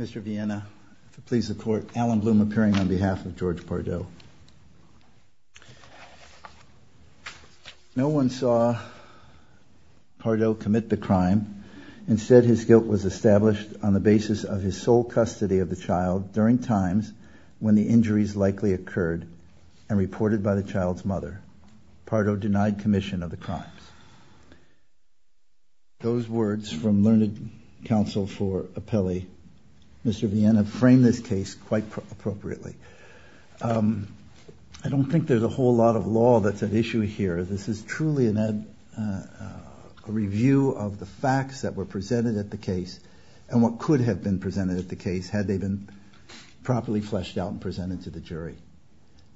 Mr. Viena, please support Alan Bloom appearing on behalf of George Pardo. No one saw Pardo commit the crime. Instead his guilt was established on the basis of his sole custody of the child during times when the injuries likely occurred and reported by the child's mother. Pardo denied commission of the crimes. Those words from learned counsel for Apelli. Mr. Viena framed this case quite appropriately. I don't think there's a whole lot of law that's at issue here. This is truly a review of the facts that were presented at the case and what could have been presented at the case had they been properly fleshed out and presented to the jury.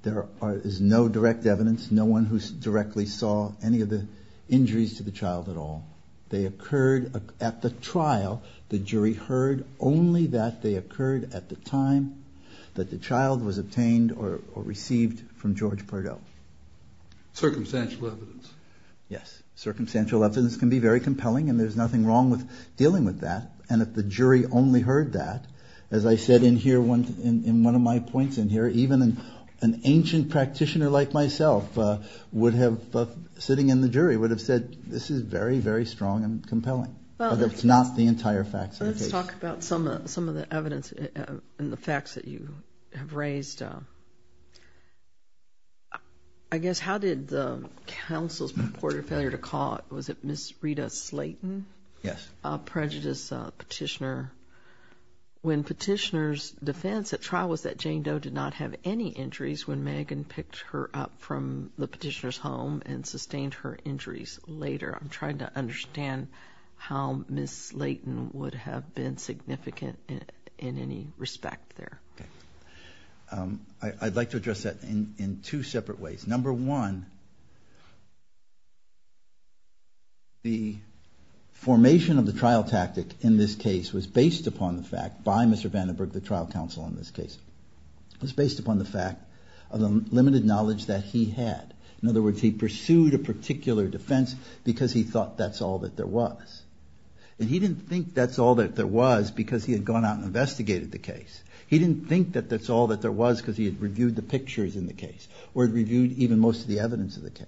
There is no direct evidence, no one who directly saw any of the injuries to the child at all. They occurred at the trial. The jury heard only that they occurred at the time that the child was obtained or received from George Pardo. Circumstantial evidence. Yes, circumstantial evidence can be very compelling and there's nothing wrong with dealing with that. And if the jury only heard that, as I said in here, in one of my points in here, even an ancient practitioner like myself would have, sitting in the jury, would have said this is very, very strong and compelling. But it's not the entire facts of the case. Let's talk about some of the evidence and the facts that you have raised. I guess, how did the counsel's purported failure to call, was it Ms. Rita Slayton? Yes. A prejudice petitioner. When petitioner's defense at trial was that Jane Doe did not have any injuries when Megan picked her up from the petitioner's home and sustained her injuries later. I'm trying to understand how Ms. Slayton would have been significant in any respect there. Okay. I'd like to address that in two separate ways. Number one, the formation of the trial tactic in this case was based upon the fact by Mr. Vandenberg, the trial counsel in this case. It was based upon the fact of the limited knowledge that he had. In other words, he pursued a particular defense because he thought that's all that there was. And he didn't think that's all that there was because he had gone out and investigated the case. He didn't think that that's all that there was because he had reviewed the pictures in the case or reviewed even most of the evidence of the case.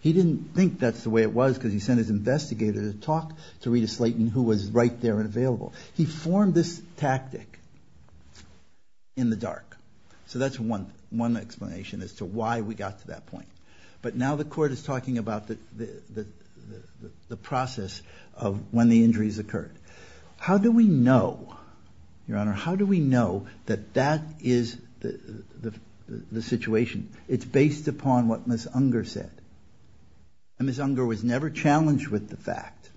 He didn't think that's the way it was because he sent his investigator to talk to Rita Slayton who was right there and available. He formed this tactic in the dark. So that's one explanation as to why we got to that point. But now the court is talking about the process of when the injuries occurred. How do we know, Your Honor, how do we know that that is the situation? It's based upon what Ms. Unger said. And Ms. Unger was never challenged with the fact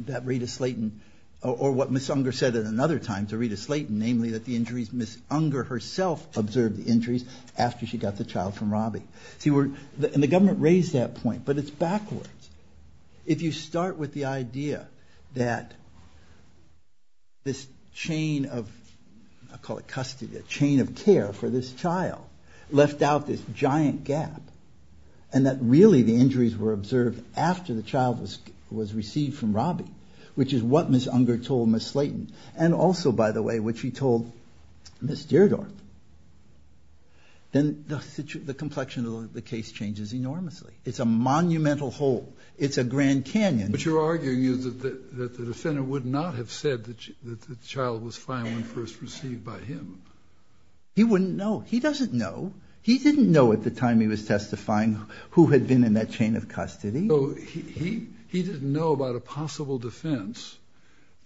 that Rita Slayton or what Ms. Unger said at another time to Rita Slayton, namely that the injuries, Ms. Unger herself observed the injuries after she got the child from Robbie. And the government raised that point, but it's backwards. If you start with the idea that this chain of, I'll call it custody, a chain of care for this child left out this giant gap and that really the injuries were observed after the child was received from Robbie, which is what Ms. Unger told Ms. Slayton and also, by the way, which he told Ms. Deardorff, then the complexion of the case changes enormously. It's a monumental hole. It's a Grand Canyon. But you're arguing that the defendant would not have said that the child was fine when first received by him. He wouldn't know. He doesn't know. He didn't know at the time he was testifying who had been in that chain of custody. He didn't know about a possible defense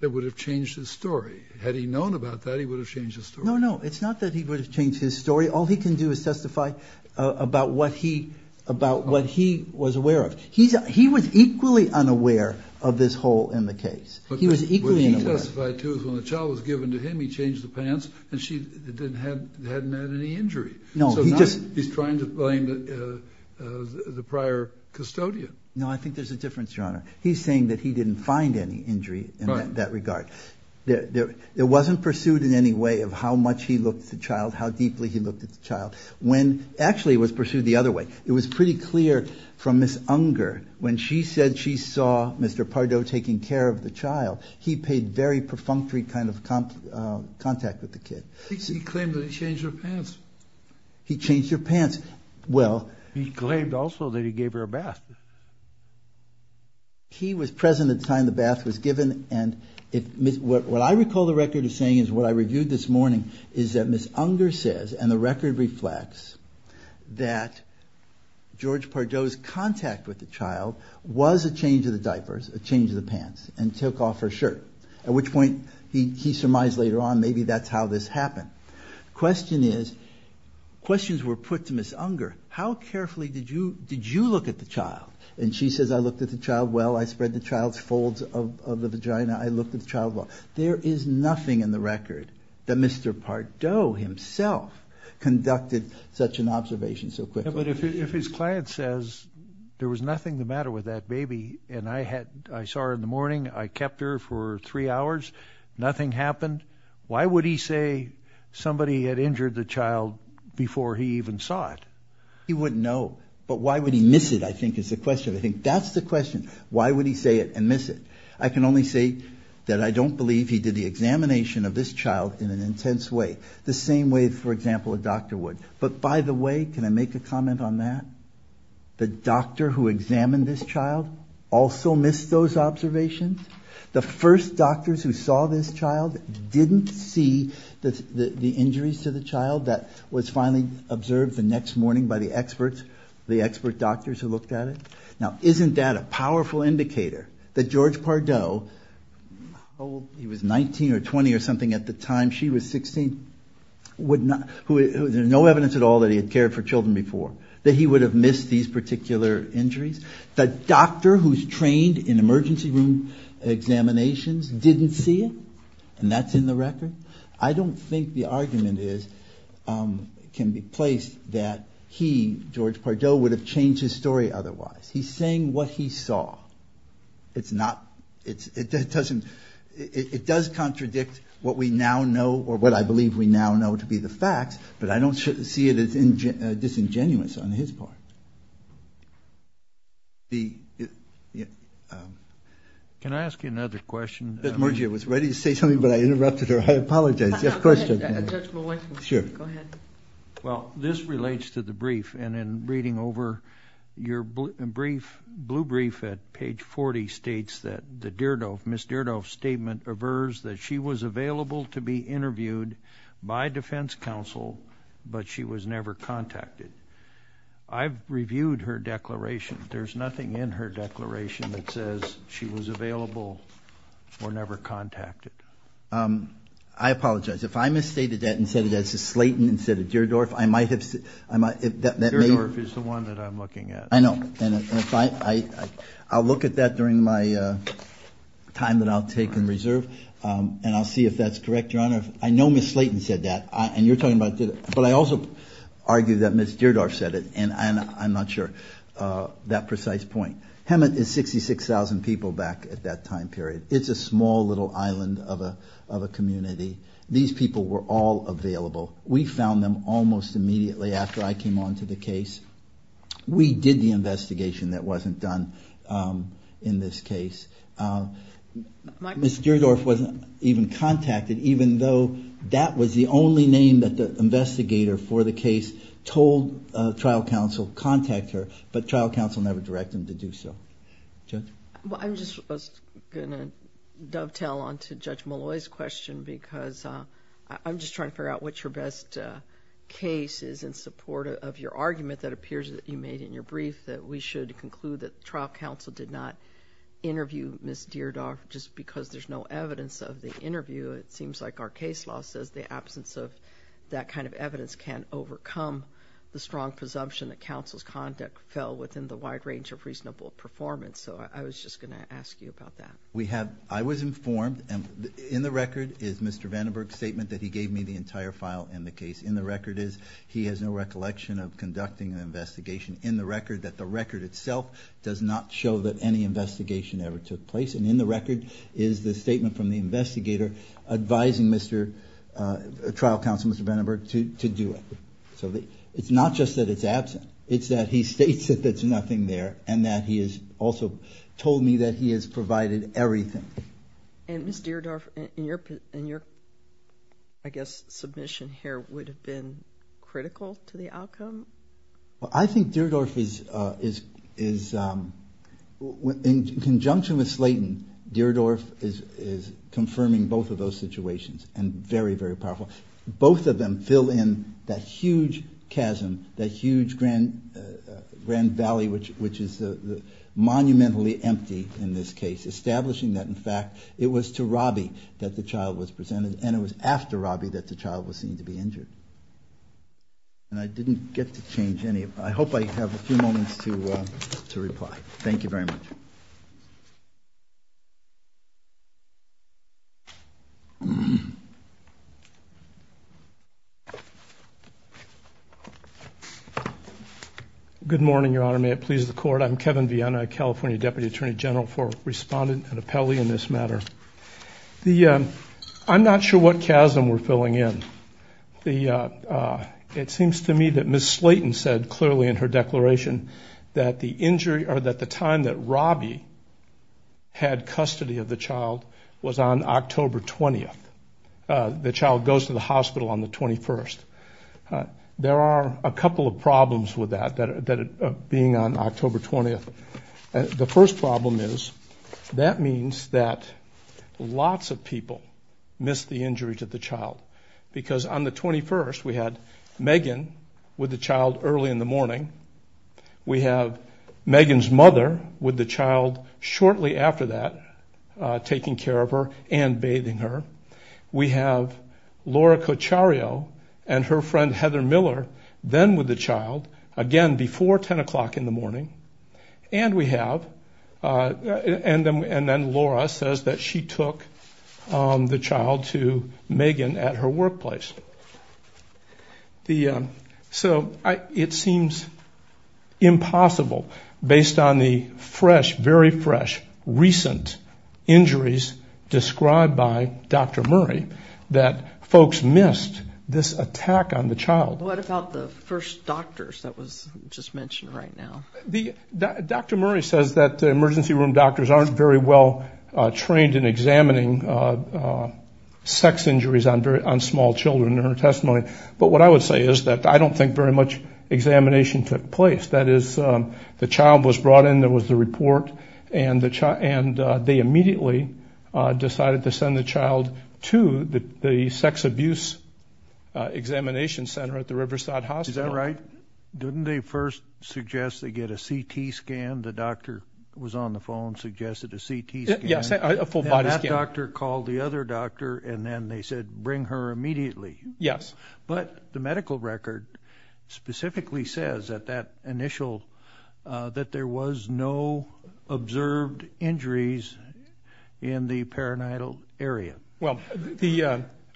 that would have changed his story. Had he known about that, he would have changed his story. No, no. It's not that he would have changed his story. All he can do is testify about what he was aware of. He was equally unaware of this hole in the case. He was equally unaware. What she testified to is when the child was given to him, he changed the pants and she hadn't had any injury. He's trying to blame the prior custodian. No, I think there's a difference, Your Honor. He's saying that he didn't find any injury in that regard. It wasn't pursued in any way of how much he looked at the child, how deeply he looked at the child. Actually, it was pursued the other way. It was pretty clear from Ms. Unger when she said she saw Mr. Pardot taking care of the child, he paid very perfunctory kind of contact with the kid. He claimed that he changed her pants. He changed her pants. He claimed also that he gave her a bath. He was present at the time the bath was given. What I recall the record as saying is what I reviewed this morning is that Ms. Unger says, and the record reflects that George Pardot's contact with the child was a change of the diapers, a change of the pants, and took off her shirt, at which point he surmised later on maybe that's how this happened. The question is, questions were put to Ms. Unger. How carefully did you look at the child? And she says, I looked at the child well. I spread the child's folds of the vagina. I looked at the child well. There is nothing in the record that Mr. Pardot himself conducted such an observation so quickly. But if his client says there was nothing the matter with that baby, and I saw her in the morning, I kept her for three hours, nothing happened, why would he say somebody had injured the child before he even saw it? He wouldn't know. But why would he miss it I think is the question. I think that's the question. Why would he say it and miss it? I can only say that I don't believe he did the examination of this child in an intense way, the same way, for example, a doctor would. But by the way, can I make a comment on that? The doctor who examined this child also missed those observations? The first doctors who saw this child didn't see the injuries to the child that was finally observed the next morning by the experts, the expert doctors who looked at it? Now, isn't that a powerful indicator that George Pardot, he was 19 or 20 or something at the time, she was 16, there was no evidence at all that he had cared for children before, that he would have missed these particular injuries? The doctor who's trained in emergency room examinations didn't see it? And that's in the record? I don't think the argument can be placed that he, George Pardot, would have changed his story otherwise. He's saying what he saw. It does contradict what we now know or what I believe we now know to be the facts, but I don't see it as disingenuous on his part. Can I ask you another question? Ms. Murgy, I was ready to say something, but I interrupted her. I apologize. Go ahead. Well, this relates to the brief, and in reading over your brief, blue brief at page 40 states that the Deardorff, Ms. Deardorff's statement averves that she was available to be interviewed by defense counsel, but she was never contacted. I've reviewed her declaration. There's nothing in her declaration that says she was available or never contacted. I apologize. If I misstated that and said it as a Slayton instead of Deardorff, I might have said that maybe. Deardorff is the one that I'm looking at. I know. I'll look at that during my time that I'll take in reserve, and I'll see if that's correct, Your Honor. I know Ms. Slayton said that, and you're talking about Deardorff, but I also argue that Ms. Deardorff said it, and I'm not sure that precise point. Hemet is 66,000 people back at that time period. It's a small little island of a community. These people were all available. We found them almost immediately after I came on to the case. We did the investigation that wasn't done in this case. Ms. Deardorff wasn't even contacted, even though that was the only name that the investigator for the case told trial counsel to contact her, but trial counsel never directed them to do so. Judge? I'm just going to dovetail on to Judge Molloy's question because I'm just trying to figure out what your best case is in support of your argument that appears that you made in your brief that we should conclude that the trial counsel did not interview Ms. Deardorff just because there's no evidence of the interview. It seems like our case law says the absence of that kind of evidence can't overcome the strong presumption that counsel's conduct fell within the wide range of reasonable performance, so I was just going to ask you about that. I was informed, and in the record is Mr. Vandenberg's statement that he gave me the entire file in the case. In the record is he has no recollection of conducting an investigation. In the record that the record itself does not show that any investigation ever took place, and in the record is the statement from the investigator advising trial counsel Mr. Vandenberg to do it. So it's not just that it's absent. It's that he states that there's nothing there and that he has also told me that he has provided everything. And Ms. Deardorff, in your, I guess, submission here would have been critical to the outcome? Well, I think Deardorff is, in conjunction with Slayton, Deardorff is confirming both of those situations and very, very powerful. Both of them fill in that huge chasm, that huge grand valley, which is monumentally empty in this case, establishing that, in fact, it was to Robbie that the child was presented and it was after Robbie that the child was seen to be injured. And I didn't get to change any. I hope I have a few moments to reply. Thank you very much. Good morning, Your Honor. May it please the Court. I'm Kevin Viena, California Deputy Attorney General for Respondent and Appellee in this matter. I'm not sure what chasm we're filling in. It seems to me that Ms. Slayton said clearly in her declaration that the injury, or that the time that Robbie had custody of the child was on October 20th. The child goes to the hospital on the 21st. There are a couple of problems with that, that being on October 20th. The first problem is that means that lots of people miss the injury to the child, because on the 21st we had Megan with the child early in the morning. We have Megan's mother with the child shortly after that taking care of her and bathing her. We have Laura Cochario and her friend Heather Miller then with the child, again, before 10 o'clock in the morning. And we have, and then Laura says that she took the child to Megan at her workplace. So it seems impossible, based on the fresh, very fresh, recent injuries described by Dr. Murray, that folks missed this attack on the child. What about the first doctors that was just mentioned right now? Dr. Murray says that the emergency room doctors aren't very well trained in examining sex injuries on small children. But what I would say is that I don't think very much examination took place. That is, the child was brought in, there was the report, and they immediately decided to send the child to the sex abuse examination center at the Riverside Hospital. Is that right? Didn't they first suggest they get a CT scan? The doctor was on the phone, suggested a CT scan. Yes, a full-body scan. One doctor called the other doctor, and then they said, bring her immediately. Yes. But the medical record specifically says that that initial, that there was no observed injuries in the perinatal area. Well,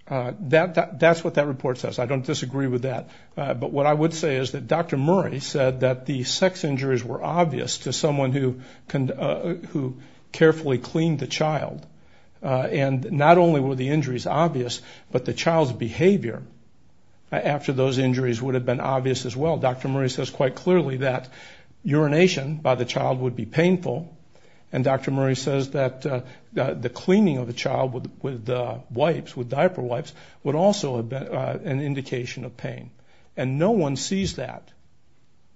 that's what that report says. I don't disagree with that. But what I would say is that Dr. Murray said that the sex injuries were obvious to someone who carefully cleaned the child, and not only were the injuries obvious, but the child's behavior after those injuries would have been obvious as well. Dr. Murray says quite clearly that urination by the child would be painful, and Dr. Murray says that the cleaning of the child with wipes, with diaper wipes, would also have been an indication of pain. And no one sees that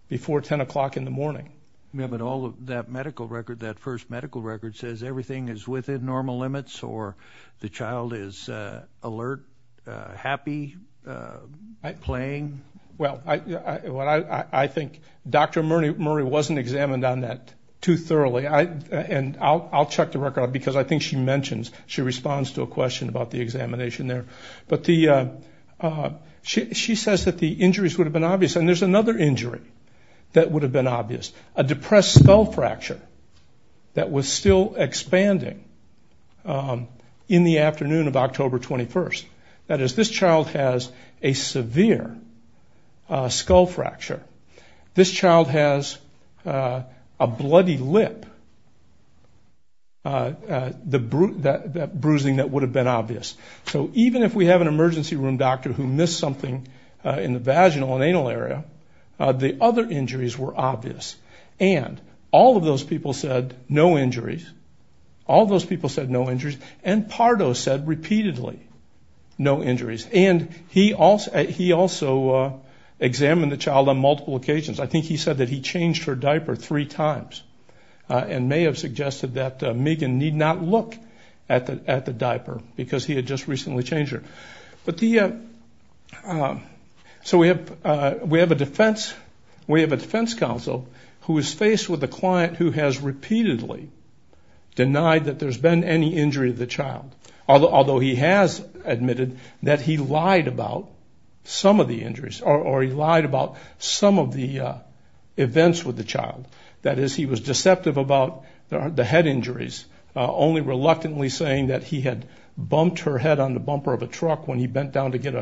before 10 o'clock in the morning. Yes, but all of that medical record, that first medical record says everything is within normal limits, or the child is alert, happy, playing. Well, I think Dr. Murray wasn't examined on that too thoroughly, and I'll check the record because I think she mentions, she responds to a question about the examination there. But she says that the injuries would have been obvious. And there's another injury that would have been obvious, a depressed skull fracture that was still expanding in the afternoon of October 21st. That is, this child has a severe skull fracture. This child has a bloody lip, that bruising that would have been obvious. So even if we have an emergency room doctor who missed something in the vaginal and anal area, the other injuries were obvious. And all of those people said no injuries, all those people said no injuries, and Pardo said repeatedly no injuries. And he also examined the child on multiple occasions. I think he said that he changed her diaper three times, and may have suggested that Megan need not look at the diaper because he had just recently changed her. So we have a defense counsel who is faced with a client who has repeatedly denied that there's been any injury there. Although he has admitted that he lied about some of the injuries, or he lied about some of the events with the child. That is, he was deceptive about the head injuries, only reluctantly saying that he had bumped her head on the bumper of a truck when he bent down to get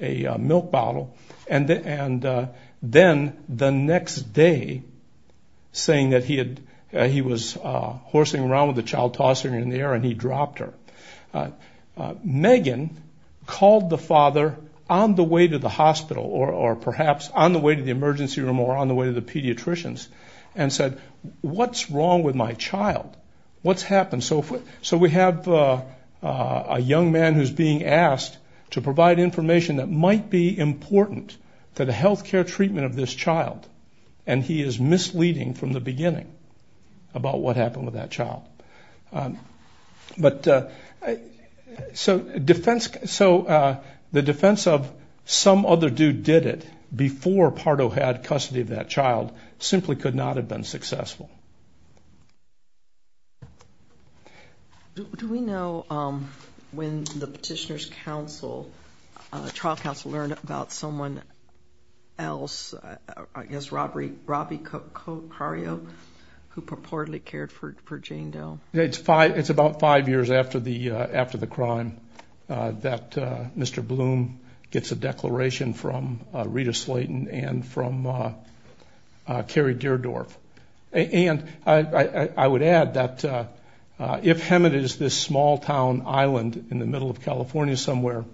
a milk bottle. And then the next day, saying that he was horsing around with the child, tossing her in the air, and he dropped her. Megan called the father on the way to the hospital, or perhaps on the way to the emergency room or on the way to the pediatricians, and said, what's wrong with my child? What's happened? So we have a young man who's being asked to provide information that might be important for the health care treatment of this child. And he is misleading from the beginning about what happened with that child. So the defense of some other dude did it before Pardo had custody of that child simply could not have been successful. Do we know when the Petitioner's trial counsel learned about someone else, I guess Robby Cario, who purportedly cared for Jane Doe? It's about five years after the crime that Mr. Bloom gets a declaration from Rita Slayton and from Carrie Deardorff. And I would add that if Hemet is this small town island in the middle of California somewhere,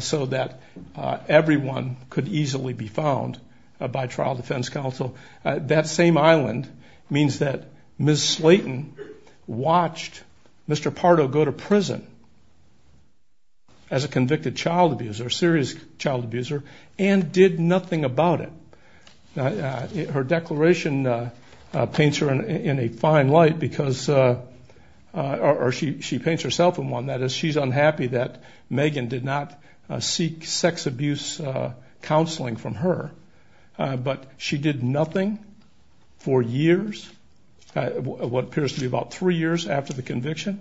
so that everyone could easily be found by trial defense counsel, that same island means that Ms. Slayton watched Mr. Pardo go to prison as a convicted child abuser, a serious child abuser, and did nothing about it. Her declaration paints her in a fine light, or she paints herself in one. That is, she's unhappy that Megan did not seek sex abuse counseling from her, but she did nothing for years, what appears to be about three years after the conviction.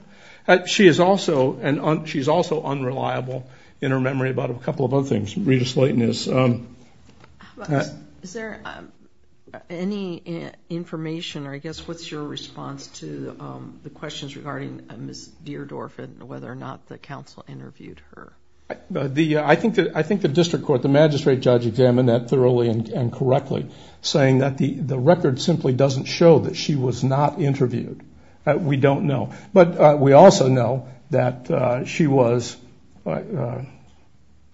She is also unreliable in her memory about a couple of other things. Rita Slayton is. Is there any information, or I guess what's your response to the questions regarding Ms. Deardorff and whether or not the counsel interviewed her? I think the district court, the magistrate judge examined that thoroughly and correctly, saying that the record simply doesn't show that she was not interviewed. We don't know. But we also know that she was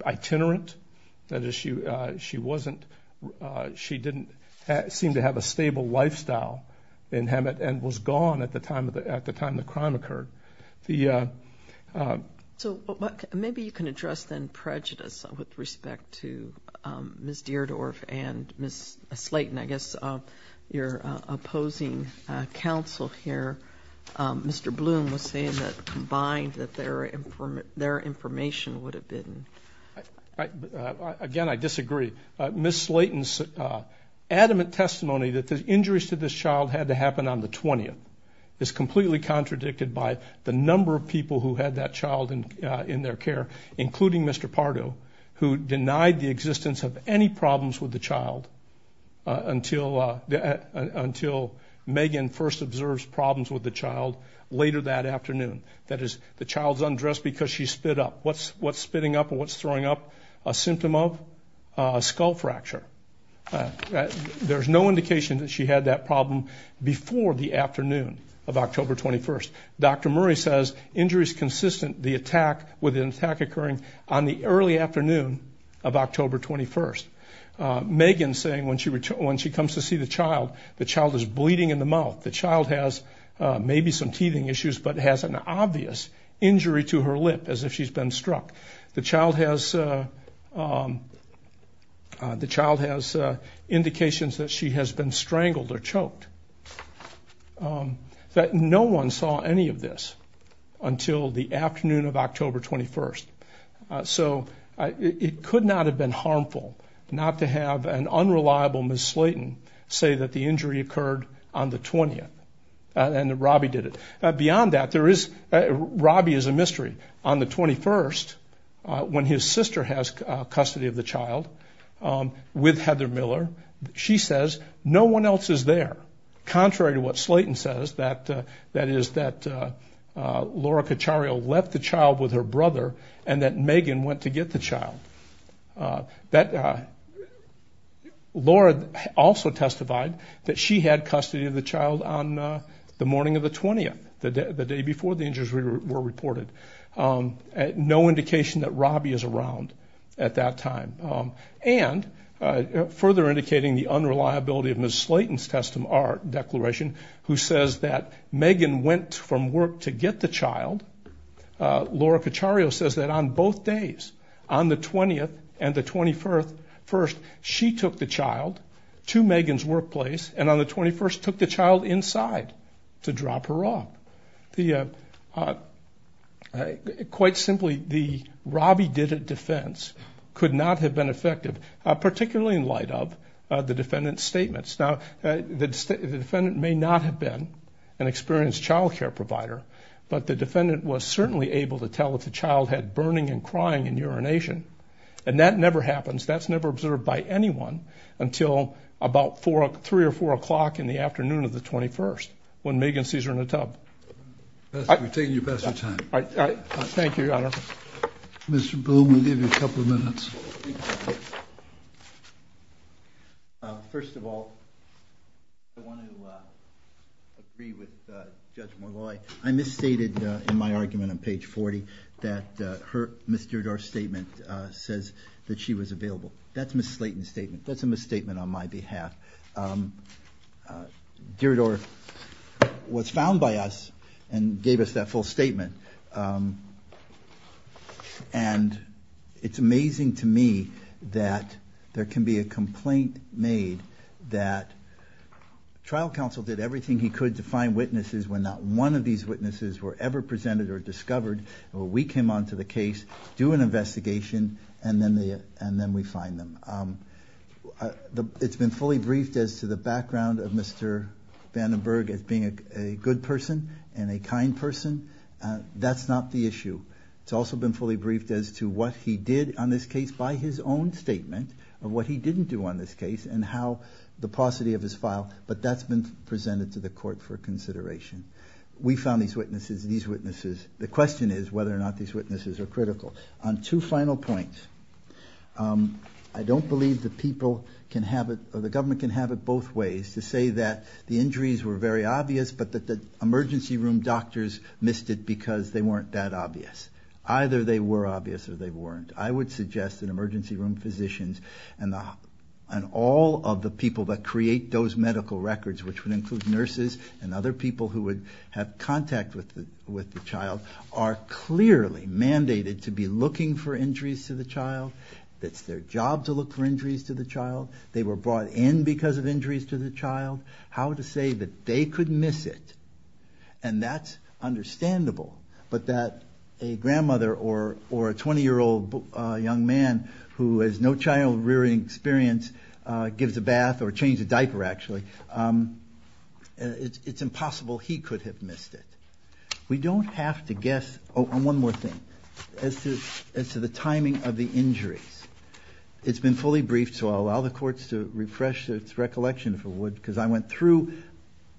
itinerant. That is, she didn't seem to have a stable lifestyle in Hemet and was gone at the time the crime occurred. Maybe you can address then prejudice with respect to Ms. Deardorff and Ms. Slayton, and I guess your opposing counsel here, Mr. Bloom, was saying that combined that their information would have been. Again, I disagree. Ms. Slayton's adamant testimony that the injuries to this child had to happen on the 20th is completely contradicted by the number of people who had that child in their care, including Mr. Pardo, who denied the existence of any problems with the child until Megan first observes problems with the child later that afternoon. That is, the child's undressed because she spit up. What's spitting up and what's throwing up a symptom of? A skull fracture. There's no indication that she had that problem before the afternoon of October 21st. Dr. Murray says injuries consistent with an attack occurring on the early afternoon of October 21st. Megan's saying when she comes to see the child, the child is bleeding in the mouth. The child has maybe some teething issues but has an obvious injury to her lip as if she's been struck. The child has indications that she has been strangled or choked. No one saw any of this until the afternoon of October 21st. So it could not have been harmful not to have an unreliable Ms. Slayton say that the injury occurred on the 20th, and that Robbie did it. Beyond that, Robbie is a mystery. On the 21st, when his sister has custody of the child with Heather Miller, she says, no one else is there. Contrary to what Slayton says, that is, that Laura Cachario left the child with her brother and that Megan went to get the child. Laura also testified that she had custody of the child on the morning of the 20th, the day before the injuries were reported. No indication that Robbie is around at that time. And further indicating the unreliability of Ms. Slayton's declaration, who says that Megan went from work to get the child. Laura Cachario says that on both days, on the 20th and the 21st, she took the child to Megan's workplace and on the 21st took the child inside to drop her off. Quite simply, the Robbie did it defense could not have been effective, particularly in light of the defendant's statements. Now, the defendant may not have been an experienced child care provider, but the defendant was certainly able to tell if the child had burning and crying and urination. And that never happens. That's never observed by anyone until about 3 or 4 o'clock in the afternoon of the 21st, when Megan sees her in the tub. We're taking you past your time. Thank you, Your Honor. Mr. Bloom, we'll give you a couple of minutes. First of all, I want to agree with Judge Molloy. I misstated in my argument on page 40 that Ms. Derridaur's statement says that she was available. That's Ms. Slayton's statement. That's a misstatement on my behalf. Derridaur was found by us and gave us that full statement. And it's amazing to me that there can be a complaint made that trial counsel did everything he could to find witnesses when not one of these witnesses were ever presented or discovered. We came on to the case, do an investigation, and then we find them. It's been fully briefed as to the background of Mr. Vandenberg as being a good person and a kind person. That's not the issue. It's also been fully briefed as to what he did on this case by his own statement of what he didn't do on this case and how the paucity of his file. But that's been presented to the court for consideration. We found these witnesses. The question is whether or not these witnesses are critical. On two final points, I don't believe the people can have it or the government can have it both ways to say that the injuries were very obvious but that the emergency room doctors missed it because they weren't that obvious. Either they were obvious or they weren't. I would suggest that emergency room physicians and all of the people that create those medical records, which would include nurses and other people who would have contact with the child, are clearly mandated to be looking for injuries to the child. It's their job to look for injuries to the child. They were brought in because of injuries to the child. How to say that they could miss it, and that's understandable, but that a grandmother or a 20-year-old young man who has no child-rearing experience gives a bath or changes a diaper, actually, it's impossible he could have missed it. We don't have to guess. Oh, and one more thing. As to the timing of the injuries, it's been fully briefed, so I'll allow the courts to refresh its recollection, if it would, because I went through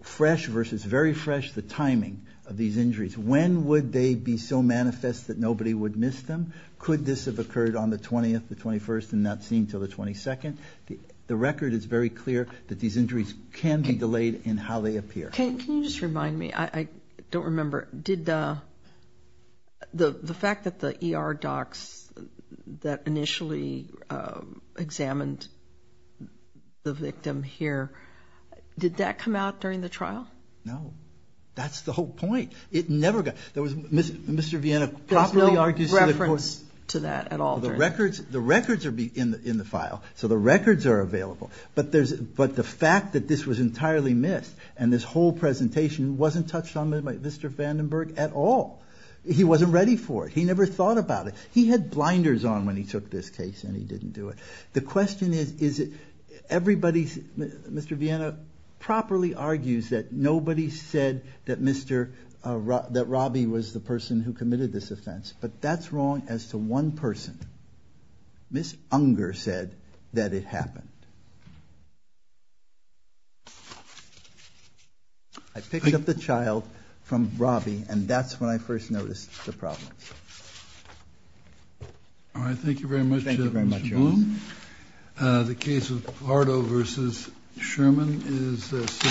fresh versus very fresh the timing of these injuries. When would they be so manifest that nobody would miss them? Could this have occurred on the 20th, the 21st, and not seen until the 22nd? The record is very clear that these injuries can be delayed in how they appear. Can you just remind me? I don't remember. The fact that the ER docs that initially examined the victim here, did that come out during the trial? No. That's the whole point. It never got. Mr. Viena properly argues to the court. There's no reference to that at all. The records are in the file, so the records are available, but the fact that this was entirely missed and this whole presentation wasn't touched on by Mr. Vandenberg at all. He wasn't ready for it. He never thought about it. He had blinders on when he took this case, and he didn't do it. The question is, everybody, Mr. Viena, properly argues that nobody said that Robbie was the person who committed this offense, but that's wrong as to one person. Ms. Unger said that it happened. I picked up the child from Robbie, and that's when I first noticed the problems. All right. Thank you very much, Mr. Bloom. Thank you very much, Your Honor. The case of Bardo v. Sherman is submitted.